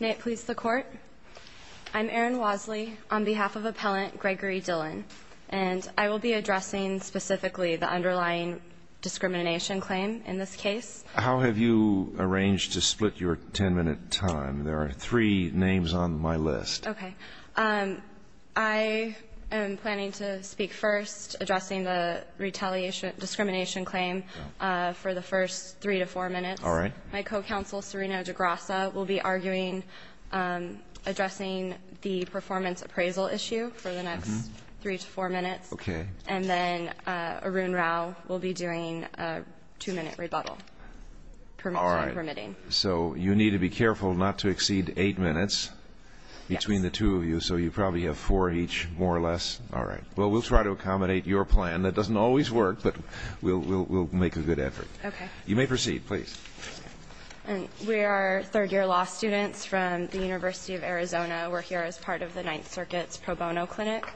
May it please the Court, I'm Erin Wosley on behalf of Appellant Gregory Dillon and I will be addressing specifically the underlying discrimination claim in this case. How have you arranged to split your ten minute time? There are three names on my list. I am planning to speak first addressing the retaliation discrimination claim for the first three to four minutes. My co-counsel Serena DeGrasa will be arguing addressing the performance appraisal issue for the next three to four minutes and then Arun Rao will be doing a two minute rebuttal permitting. So you need to be careful not to exceed eight minutes between the two of you so you probably have four each more or less. All right well we'll try to accommodate your plan that doesn't always work but we'll make a good effort. You may proceed please. We are third-year law students from the University of Arizona. We're here as part of the Ninth Circuit's pro bono clinic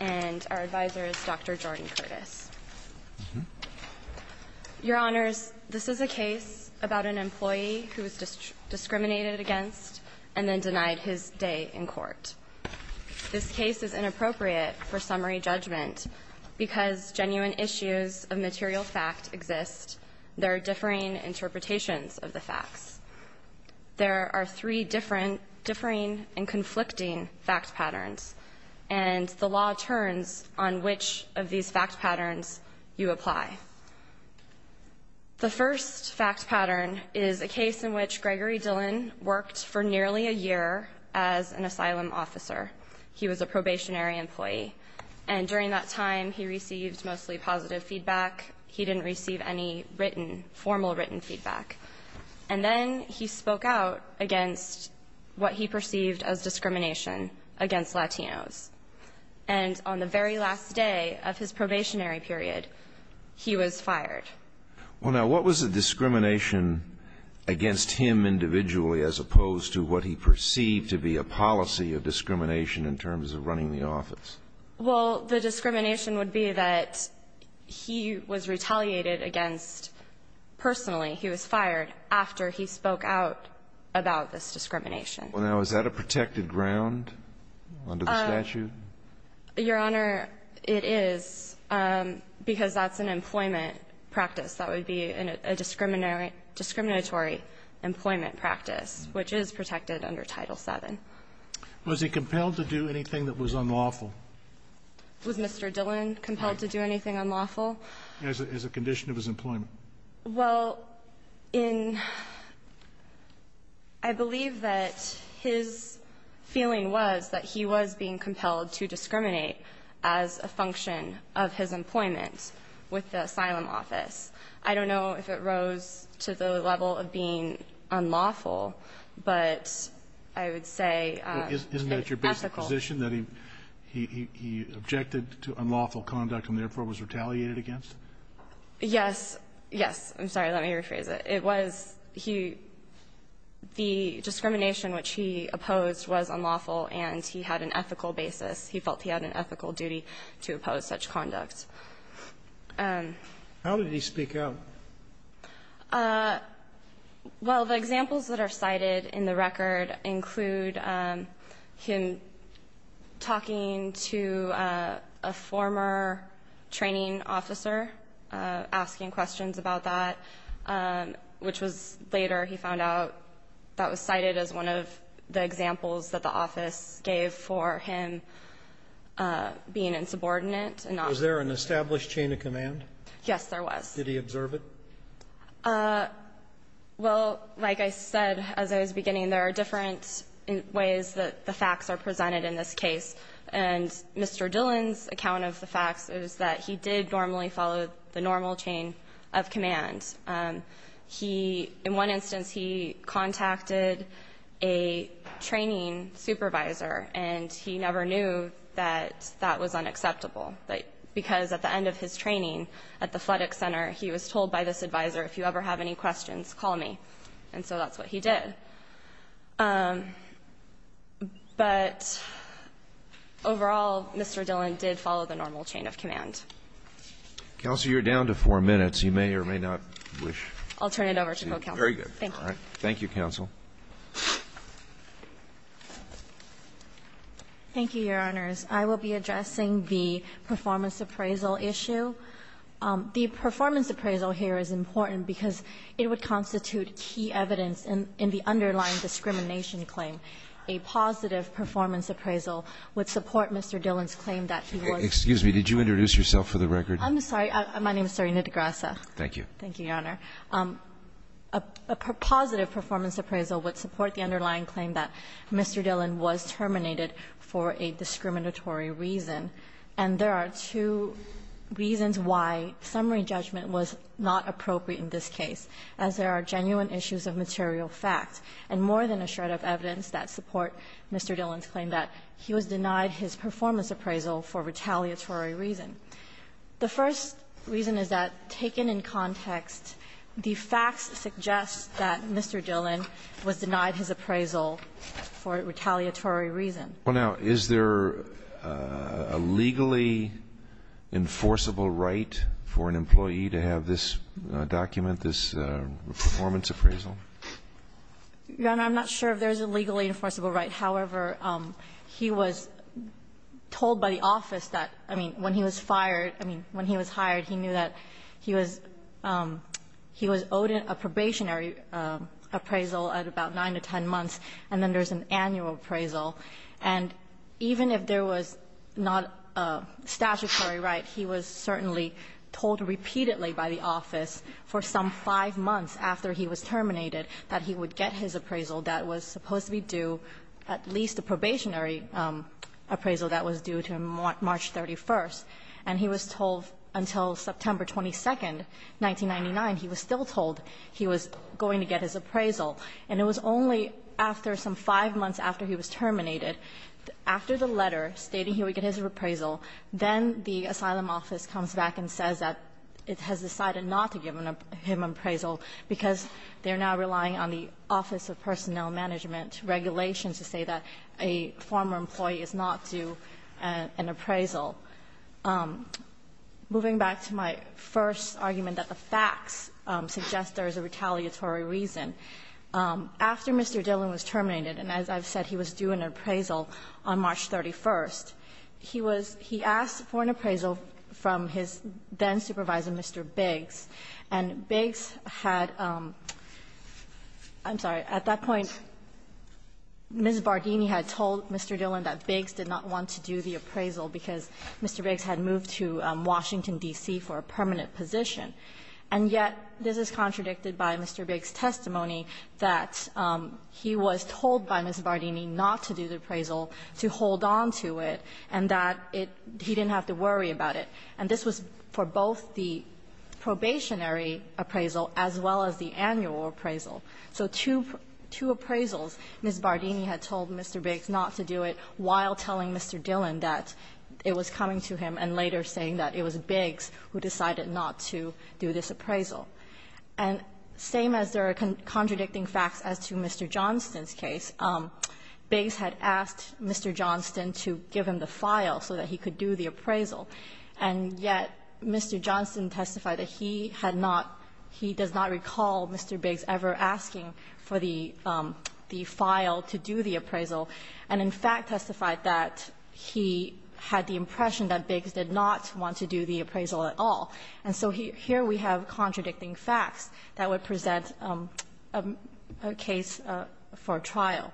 and our advisor is Dr. who was discriminated against and then denied his day in court. This case is inappropriate for summary judgment because genuine issues of material fact exist. There are differing interpretations of the facts. There are three different differing and conflicting fact patterns and the law turns on which of these fact patterns you apply. The first fact pattern is a case in which Gregory Dillon worked for nearly a year as an asylum officer. He was a probationary employee and during that time he received mostly positive feedback. He didn't receive any written formal written feedback and then he spoke out against what he perceived as discrimination against Latinos and on the very last day of his probationary period he was fired. Well now what was the discrimination against him individually as opposed to what he perceived to be a policy of discrimination in terms of running the office? Well the discrimination would be that he was retaliated against personally. He was fired after he spoke out about this discrimination. Well now is that a protected ground under the statute? Your Honor it is because that's an employment practice that would be in a discriminatory employment practice which is protected under Title VII. Was he compelled to do anything that was unlawful? Was Mr. Dillon compelled to do anything unlawful? As a condition of his employment? Well in I believe that his feeling was that he was being compelled to discriminate as a function of his employment with the asylum office. I don't know if it rose to the level of being unlawful but I would say ethical. Well isn't that your basic position that he objected to unlawful conduct and therefore was retaliated against? Yes. Yes. I'm sorry let me rephrase it. It was the discrimination which he opposed was unlawful and he had an ethical basis. He felt he had an ethical duty to oppose such conduct. How did he speak out? Well the examples that are cited in the record include him talking to a former training officer asking questions about that which was later he found out that was cited as one of the examples that the office gave for him being insubordinate. Was there an established chain of command? Yes there was. Did he observe it? Well like I said as I was beginning there are different ways that the facts are presented in this case and Mr. Dillon's account of the facts is that he did normally follow the normal chain of command. In one instance he contacted a training supervisor and he never knew that that was unacceptable because at the end of his training at the Fuddick Center he was told by this advisor if you ever have any questions call me and so that's what he did. But overall Mr. Dillon did follow the normal chain of command. Counselor you're down to four minutes you may or may not wish. I'll turn it over to co-counsel. Thank you counsel. Thank you Your Honors. I will be addressing the performance appraisal issue. The performance appraisal here is important because it would constitute key evidence in the underlying discrimination claim. A positive performance appraisal would support Mr. Dillon's claim that he was. Excuse me did you introduce yourself for the record? I'm sorry. My name is Serena DeGrasse. Thank you. Thank you Your Honor. A positive performance appraisal would support the underlying claim that Mr. Dillon was terminated for a discriminatory reason and there are two reasons why summary judgment was not appropriate in this case as there are genuine issues of material facts and more than a shred of evidence that support Mr. Dillon's claim that he was The first reason is that taken in context the facts suggest that Mr. Dillon was denied his appraisal for retaliatory reason. Well now is there a legally enforceable right for an employee to have this document this performance appraisal? Your Honor I'm not sure if there's a legally enforceable right however he was told by the office that I mean when he was fired I mean when he was hired he knew that he was he was owed a probationary appraisal at about nine to ten months and then there's an annual appraisal and even if there was not a statutory right he was certainly told repeatedly by the office for some five months after he was terminated that he would get his appraisal that was supposed to be due at least a probationary appraisal that was due to him on March 31st and he was told until September 22nd 1999 he was still told he was going to get his appraisal and it was only after some five months after he was terminated after the letter stating he would get his appraisal then the asylum office comes back and says that it has decided not to give him an appraisal because they're now relying on the Office of Personnel Management regulations to say that a former employee is not due an appraisal. Moving back to my first argument that the facts suggest there is a retaliatory reason. After Mr. Dillon was terminated and as I've said he was due an appraisal on March 31st he was he asked for an appraisal from his then supervisor Mr. Biggs and Biggs had I'm sorry at that point Ms. Bardini had told Mr. Dillon that Biggs did not want to do the appraisal because Mr. Biggs had moved to Washington D.C. for a permanent position and yet this is contradicted by Mr. Biggs testimony that he was told by Ms. Bardini not to do the appraisal to hold on to it and that it he didn't have to worry about it and this was for both the probationary appraisal as well as the annual appraisal so two two appraisals Ms. Bardini had told Mr. Biggs not to do it while telling Mr. Dillon that it was coming to him and later saying that it was Biggs who decided not to do this appraisal and same as there are contradicting facts as to Mr. Johnston's case Biggs had asked Mr. Johnston to give him the file so that he could do the appraisal and yet Mr. Johnston testified that he had not he does not recall Mr. Biggs ever asking for the the file to do the appraisal and in fact testified that he had the impression that Biggs did not want to do the appraisal at all and so here we have contradicting facts that would present a case for trial.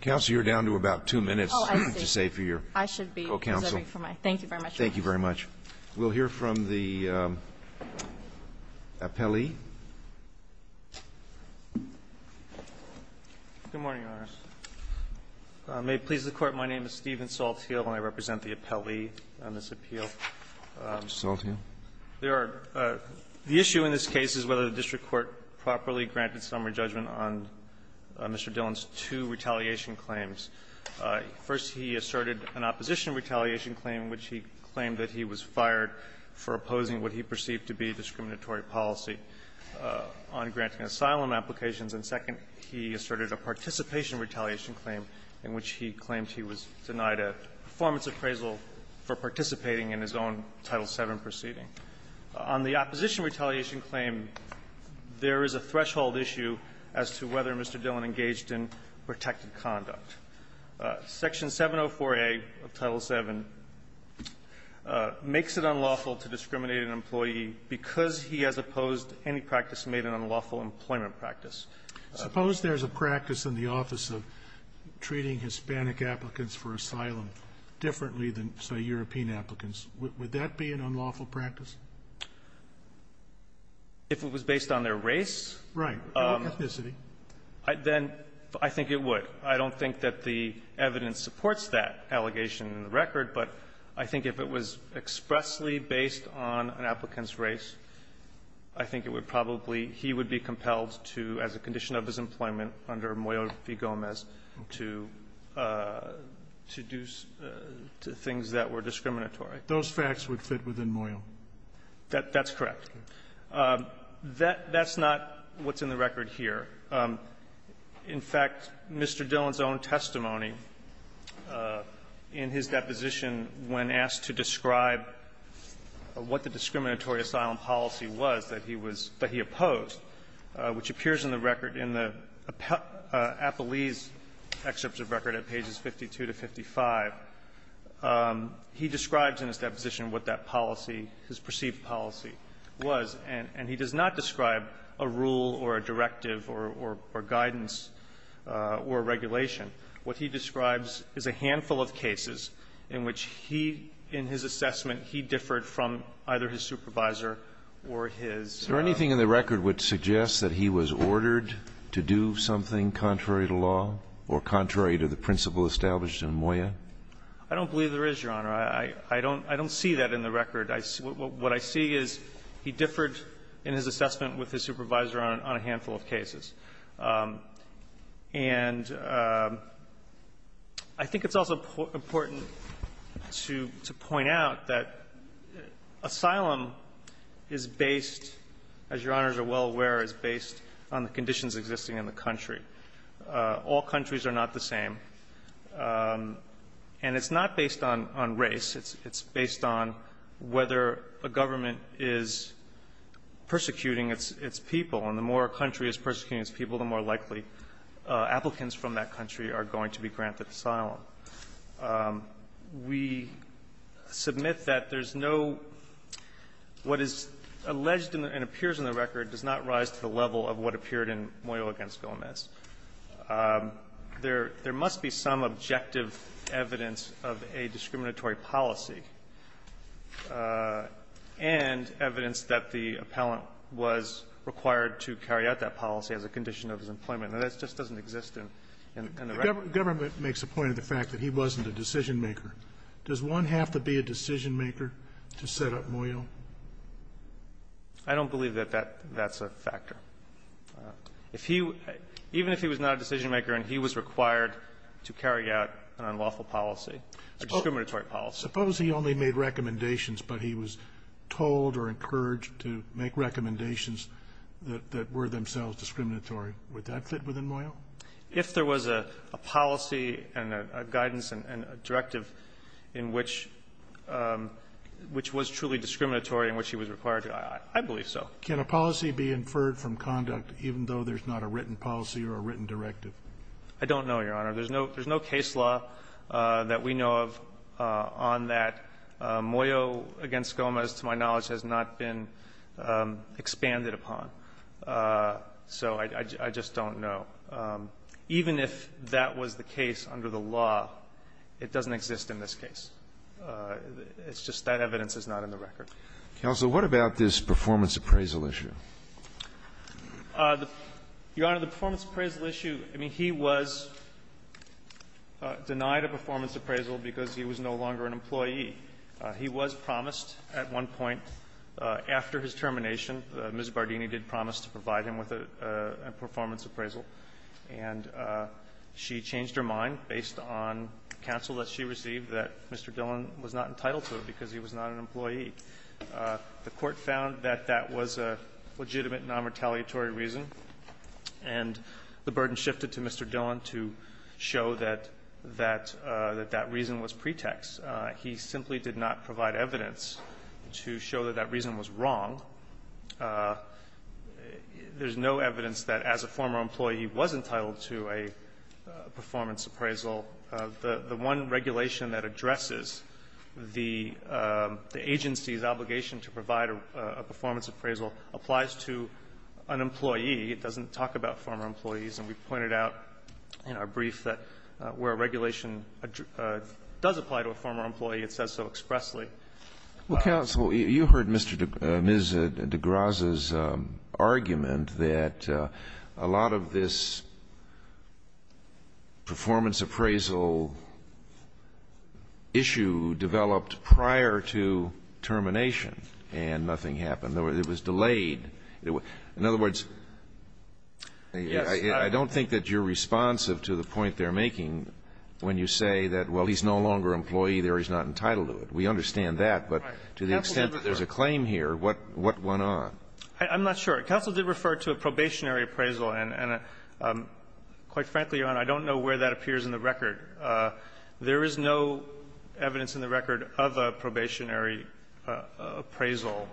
Counsel you're down to about two minutes to say for your counsel. Thank you very much. We'll hear from the appellee. Good morning, Your Honors. May it please the Court. My name is Steven Saltheel and I represent the appellee on this appeal. Mr. Saltheel. The issue in this case is whether the district court properly granted summary judgment on Mr. Dillon's two retaliation claims. First he asserted an opposition retaliation claim in which he claimed that he was fired for opposing what he perceived to be discriminatory policy on granting asylum applications and second he asserted a participation retaliation claim in which he claimed he was denied a performance appraisal for participating in his own Title VII proceeding. On the opposition retaliation claim there is a threshold issue as to whether Mr. Dillon's claim was justified in conduct. Section 704A of Title VII makes it unlawful to discriminate an employee because he has opposed any practice made an unlawful employment practice. Suppose there's a practice in the office of treating Hispanic applicants for asylum differently than, say, European applicants. Would that be an unlawful practice? If it was based on their race? Right. Ethnicity. Then I think it would. I don't think that the evidence supports that allegation in the record. But I think if it was expressly based on an applicant's race, I think it would probably he would be compelled to, as a condition of his employment under Moyo v. Gomez, to do things that were discriminatory. Those facts would fit within Moyo. That's correct. That's not what's in the record here. In fact, Mr. Dillon's own testimony in his deposition, when asked to describe what the discriminatory asylum policy was that he was that he opposed, which appears in the record in the Appellee's excerpts of record at pages 52 to 55, he describes in his deposition what that policy, his perceived policy, was. And he does not describe a rule or a directive or guidance or regulation. What he describes is a handful of cases in which he, in his assessment, he differed from either his supervisor or his lawyer. Is there anything in the record which suggests that he was ordered to do something contrary to law or contrary to the principle established in Moyo? I don't believe there is, Your Honor. I don't see that in the record. What I see is he differed in his assessment with his supervisor on a handful of cases. And I think it's also important to point out that asylum is based, as Your Honors are well aware, is based on the conditions existing in the country. All countries are not the same. And it's not based on race. It's based on whether a government is persecuting its people. And the more a country is persecuting its people, the more likely applicants from that country are going to be granted asylum. We submit that there's no – what is alleged and appears in the record does not rise to the level of what appeared in Moyo v. Gomez. There must be some objective evidence of a discriminatory policy and evidence that the appellant was required to carry out that policy as a condition of his employment. And that just doesn't exist in the record. The government makes a point of the fact that he wasn't a decision maker. Does one have to be a decision maker to set up Moyo? I don't believe that that's a factor. If he – even if he was not a decision maker and he was required to carry out an unlawful policy, a discriminatory policy. Suppose he only made recommendations, but he was told or encouraged to make recommendations that were themselves discriminatory. Would that fit within Moyo? If there was a policy and a guidance and a directive in which – which was truly discriminatory and which he was required to, I believe so. Can a policy be inferred from conduct even though there's not a written policy or a written directive? I don't know, Your Honor. There's no case law that we know of on that. Moyo v. Gomez, to my knowledge, has not been expanded upon. So I just don't know. Even if that was the case under the law, it doesn't exist in this case. It's just that evidence is not in the record. Counsel, what about this performance appraisal issue? Your Honor, the performance appraisal issue, I mean, he was denied a performance appraisal because he was no longer an employee. He was promised at one point after his termination, Ms. Bardini did promise to provide him with a performance appraisal, and she changed her mind based on counsel that she received that Mr. Dillon was not entitled to it because he was not an employee. The court found that that was a legitimate non-retaliatory reason, and the burden shifted to Mr. Dillon to show that that reason was pretext. He simply did not provide evidence to show that that reason was wrong. There's no evidence that as a former employee he was entitled to a performance appraisal. The one regulation that addresses the agency's obligation to provide a performance appraisal applies to an employee. It doesn't talk about former employees. And we pointed out in our brief that where a regulation does apply to a former employee, it says so expressly. Well, counsel, you heard Ms. DeGrasse's argument that a lot of this performance appraisal issue developed prior to termination and nothing happened. It was delayed. In other words, I don't think that you're responsive to the point they're making when you say that, well, he's no longer an employee there. He's not entitled to it. We understand that. But to the extent that there's a claim here, what went on? I'm not sure. Counsel did refer to a probationary appraisal. And quite frankly, Your Honor, I don't know where that appears in the record. There is no evidence in the record of a probationary appraisal.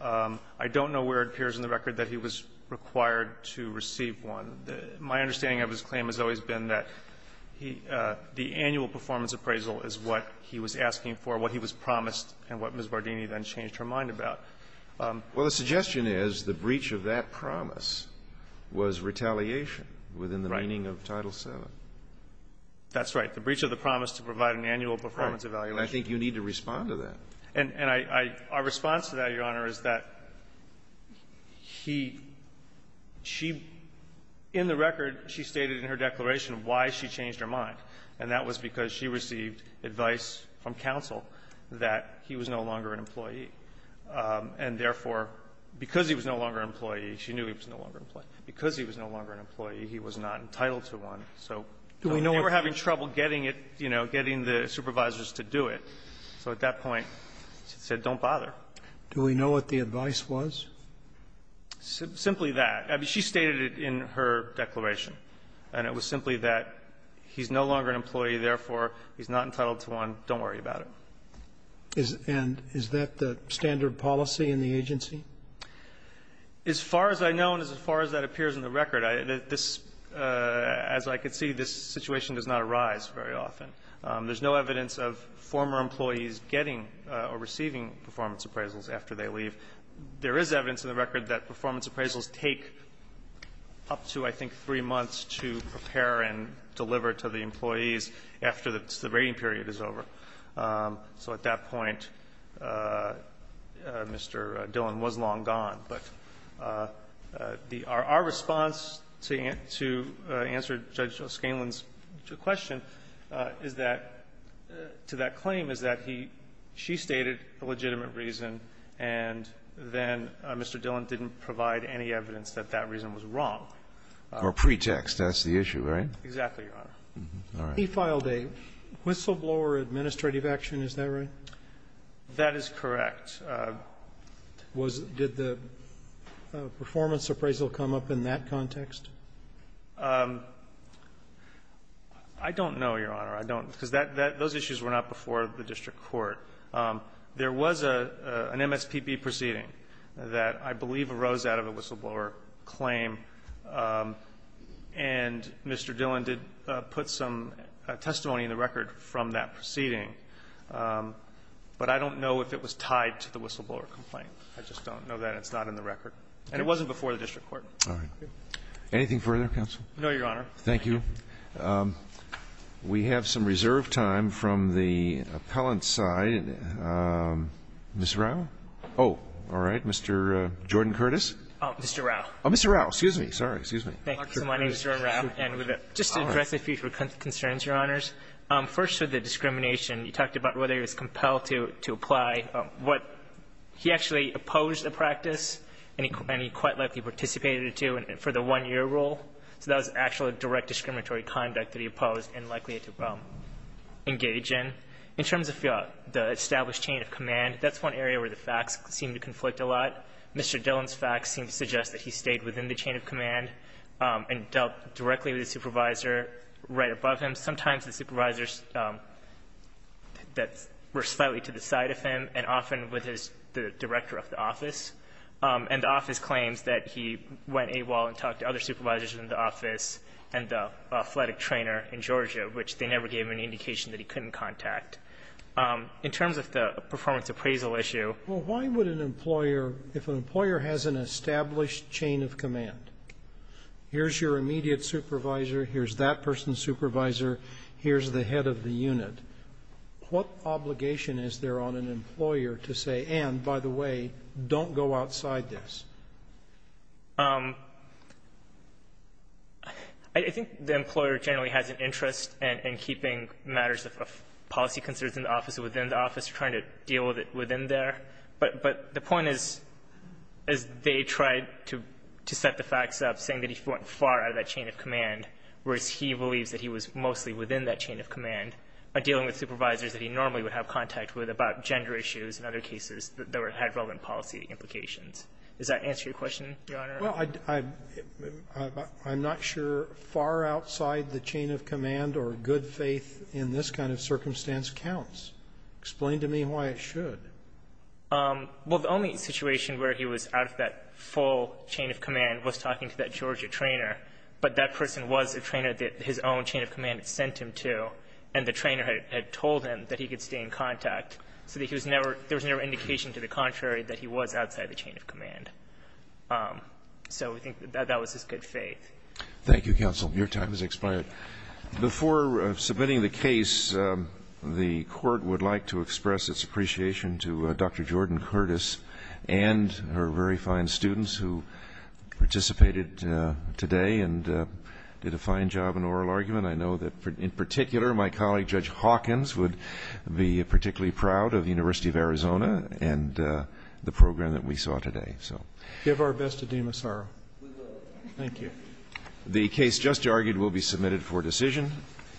I don't know where it appears in the record that he was required to receive one. My understanding of his claim has always been that the annual performance appraisal is what he was asking for, what he was promised, and what Ms. Bardini then changed her mind about. Well, the suggestion is the breach of that promise was retaliation within the meaning of Title VII. Right. That's right. The breach of the promise to provide an annual performance evaluation. Right. And I think you need to respond to that. And I – our response to that, Your Honor, is that he – she – in the record, she stated in her declaration why she changed her mind. And that was because she received advice from counsel that he was no longer an employee. And therefore, because he was no longer an employee – she knew he was no longer an employee – because he was no longer an employee, he was not entitled to one. So they were having trouble getting it, you know, getting the supervisors to do it. So at that point, she said, don't bother. Do we know what the advice was? Simply that. I mean, she stated it in her declaration. And it was simply that he's no longer an employee, therefore, he's not entitled to one. Don't worry about it. And is that the standard policy in the agency? As far as I know and as far as that appears in the record, this – as I can see, this situation does not arise very often. There's no evidence of former employees getting or receiving performance appraisals after they leave. There is evidence in the record that performance appraisals take up to, I think, three months to prepare and deliver to the employees after the rating period is over. So at that point, Mr. Dillon was long gone. But our response to answer Judge Scanlon's question is that – to that claim is that he – she stated a legitimate reason, and then Mr. Dillon didn't provide any evidence that that reason was wrong. Or pretext. That's the issue, right? Exactly, Your Honor. All right. He filed a whistleblower administrative action, is that right? That is correct. Was – did the performance appraisal come up in that context? I don't know, Your Honor. I don't. Because that – those issues were not before the district court. There was an MSPB proceeding that I believe arose out of a whistleblower claim, and Mr. Dillon did put some testimony in the record from that proceeding. But I don't know if it was tied to the whistleblower complaint. I just don't know that. It's not in the record. And it wasn't before the district court. All right. Anything further, counsel? No, Your Honor. Thank you. We have some reserve time from the appellant side. Ms. Rao? Oh, all right. Mr. Jordan Curtis? Mr. Rao. Oh, Mr. Rao. Excuse me. Sorry. Excuse me. My name is Jordan Rao, and just to address a few concerns, Your Honors. First, with the discrimination, you talked about whether he was compelled to apply what – he actually opposed the practice, and he quite likely participated in it, too, for the one-year rule. So that was actual direct discriminatory conduct that he opposed and likely to engage in. In terms of the established chain of command, that's one area where the facts seem to conflict a lot. Mr. Dillon's facts seem to suggest that he stayed within the chain of command and dealt directly with his supervisor right above him. Sometimes the supervisors were slightly to the side of him and often with the director of the office. And the office claims that he went AWOL and talked to other supervisors in the office and the athletic trainer in Georgia, which they never gave him any indication that he couldn't contact. In terms of the performance appraisal issue – If an employer has an established chain of command, here's your immediate supervisor, here's that person's supervisor, here's the head of the unit, what obligation is there on an employer to say, and, by the way, don't go outside this? I think the employer generally has an interest in keeping matters of policy concerns in the office or within the office, trying to deal with it within there. But the point is they tried to set the facts up saying that he went far out of that chain of command, whereas he believes that he was mostly within that chain of command by dealing with supervisors that he normally would have contact with about gender issues and other cases that had relevant policy implications. Does that answer your question, Your Honor? Well, I'm not sure far outside the chain of command or good faith in this kind of circumstance counts. Explain to me why it should. Well, the only situation where he was out of that full chain of command was talking to that Georgia trainer, but that person was a trainer that his own chain of command had sent him to, and the trainer had told him that he could stay in contact, so that there was never indication to the contrary that he was outside the chain of command. So I think that that was his good faith. Thank you, counsel. Your time has expired. Before submitting the case, the court would like to express its appreciation to Dr. Jordan Curtis and her very fine students who participated today and did a fine job in oral argument. I know that in particular my colleague, Judge Hawkins, would be particularly proud of the University of Arizona and the program that we saw today. Give our best to Deema Saro. We will. Thank you. The case just argued will be submitted for decision.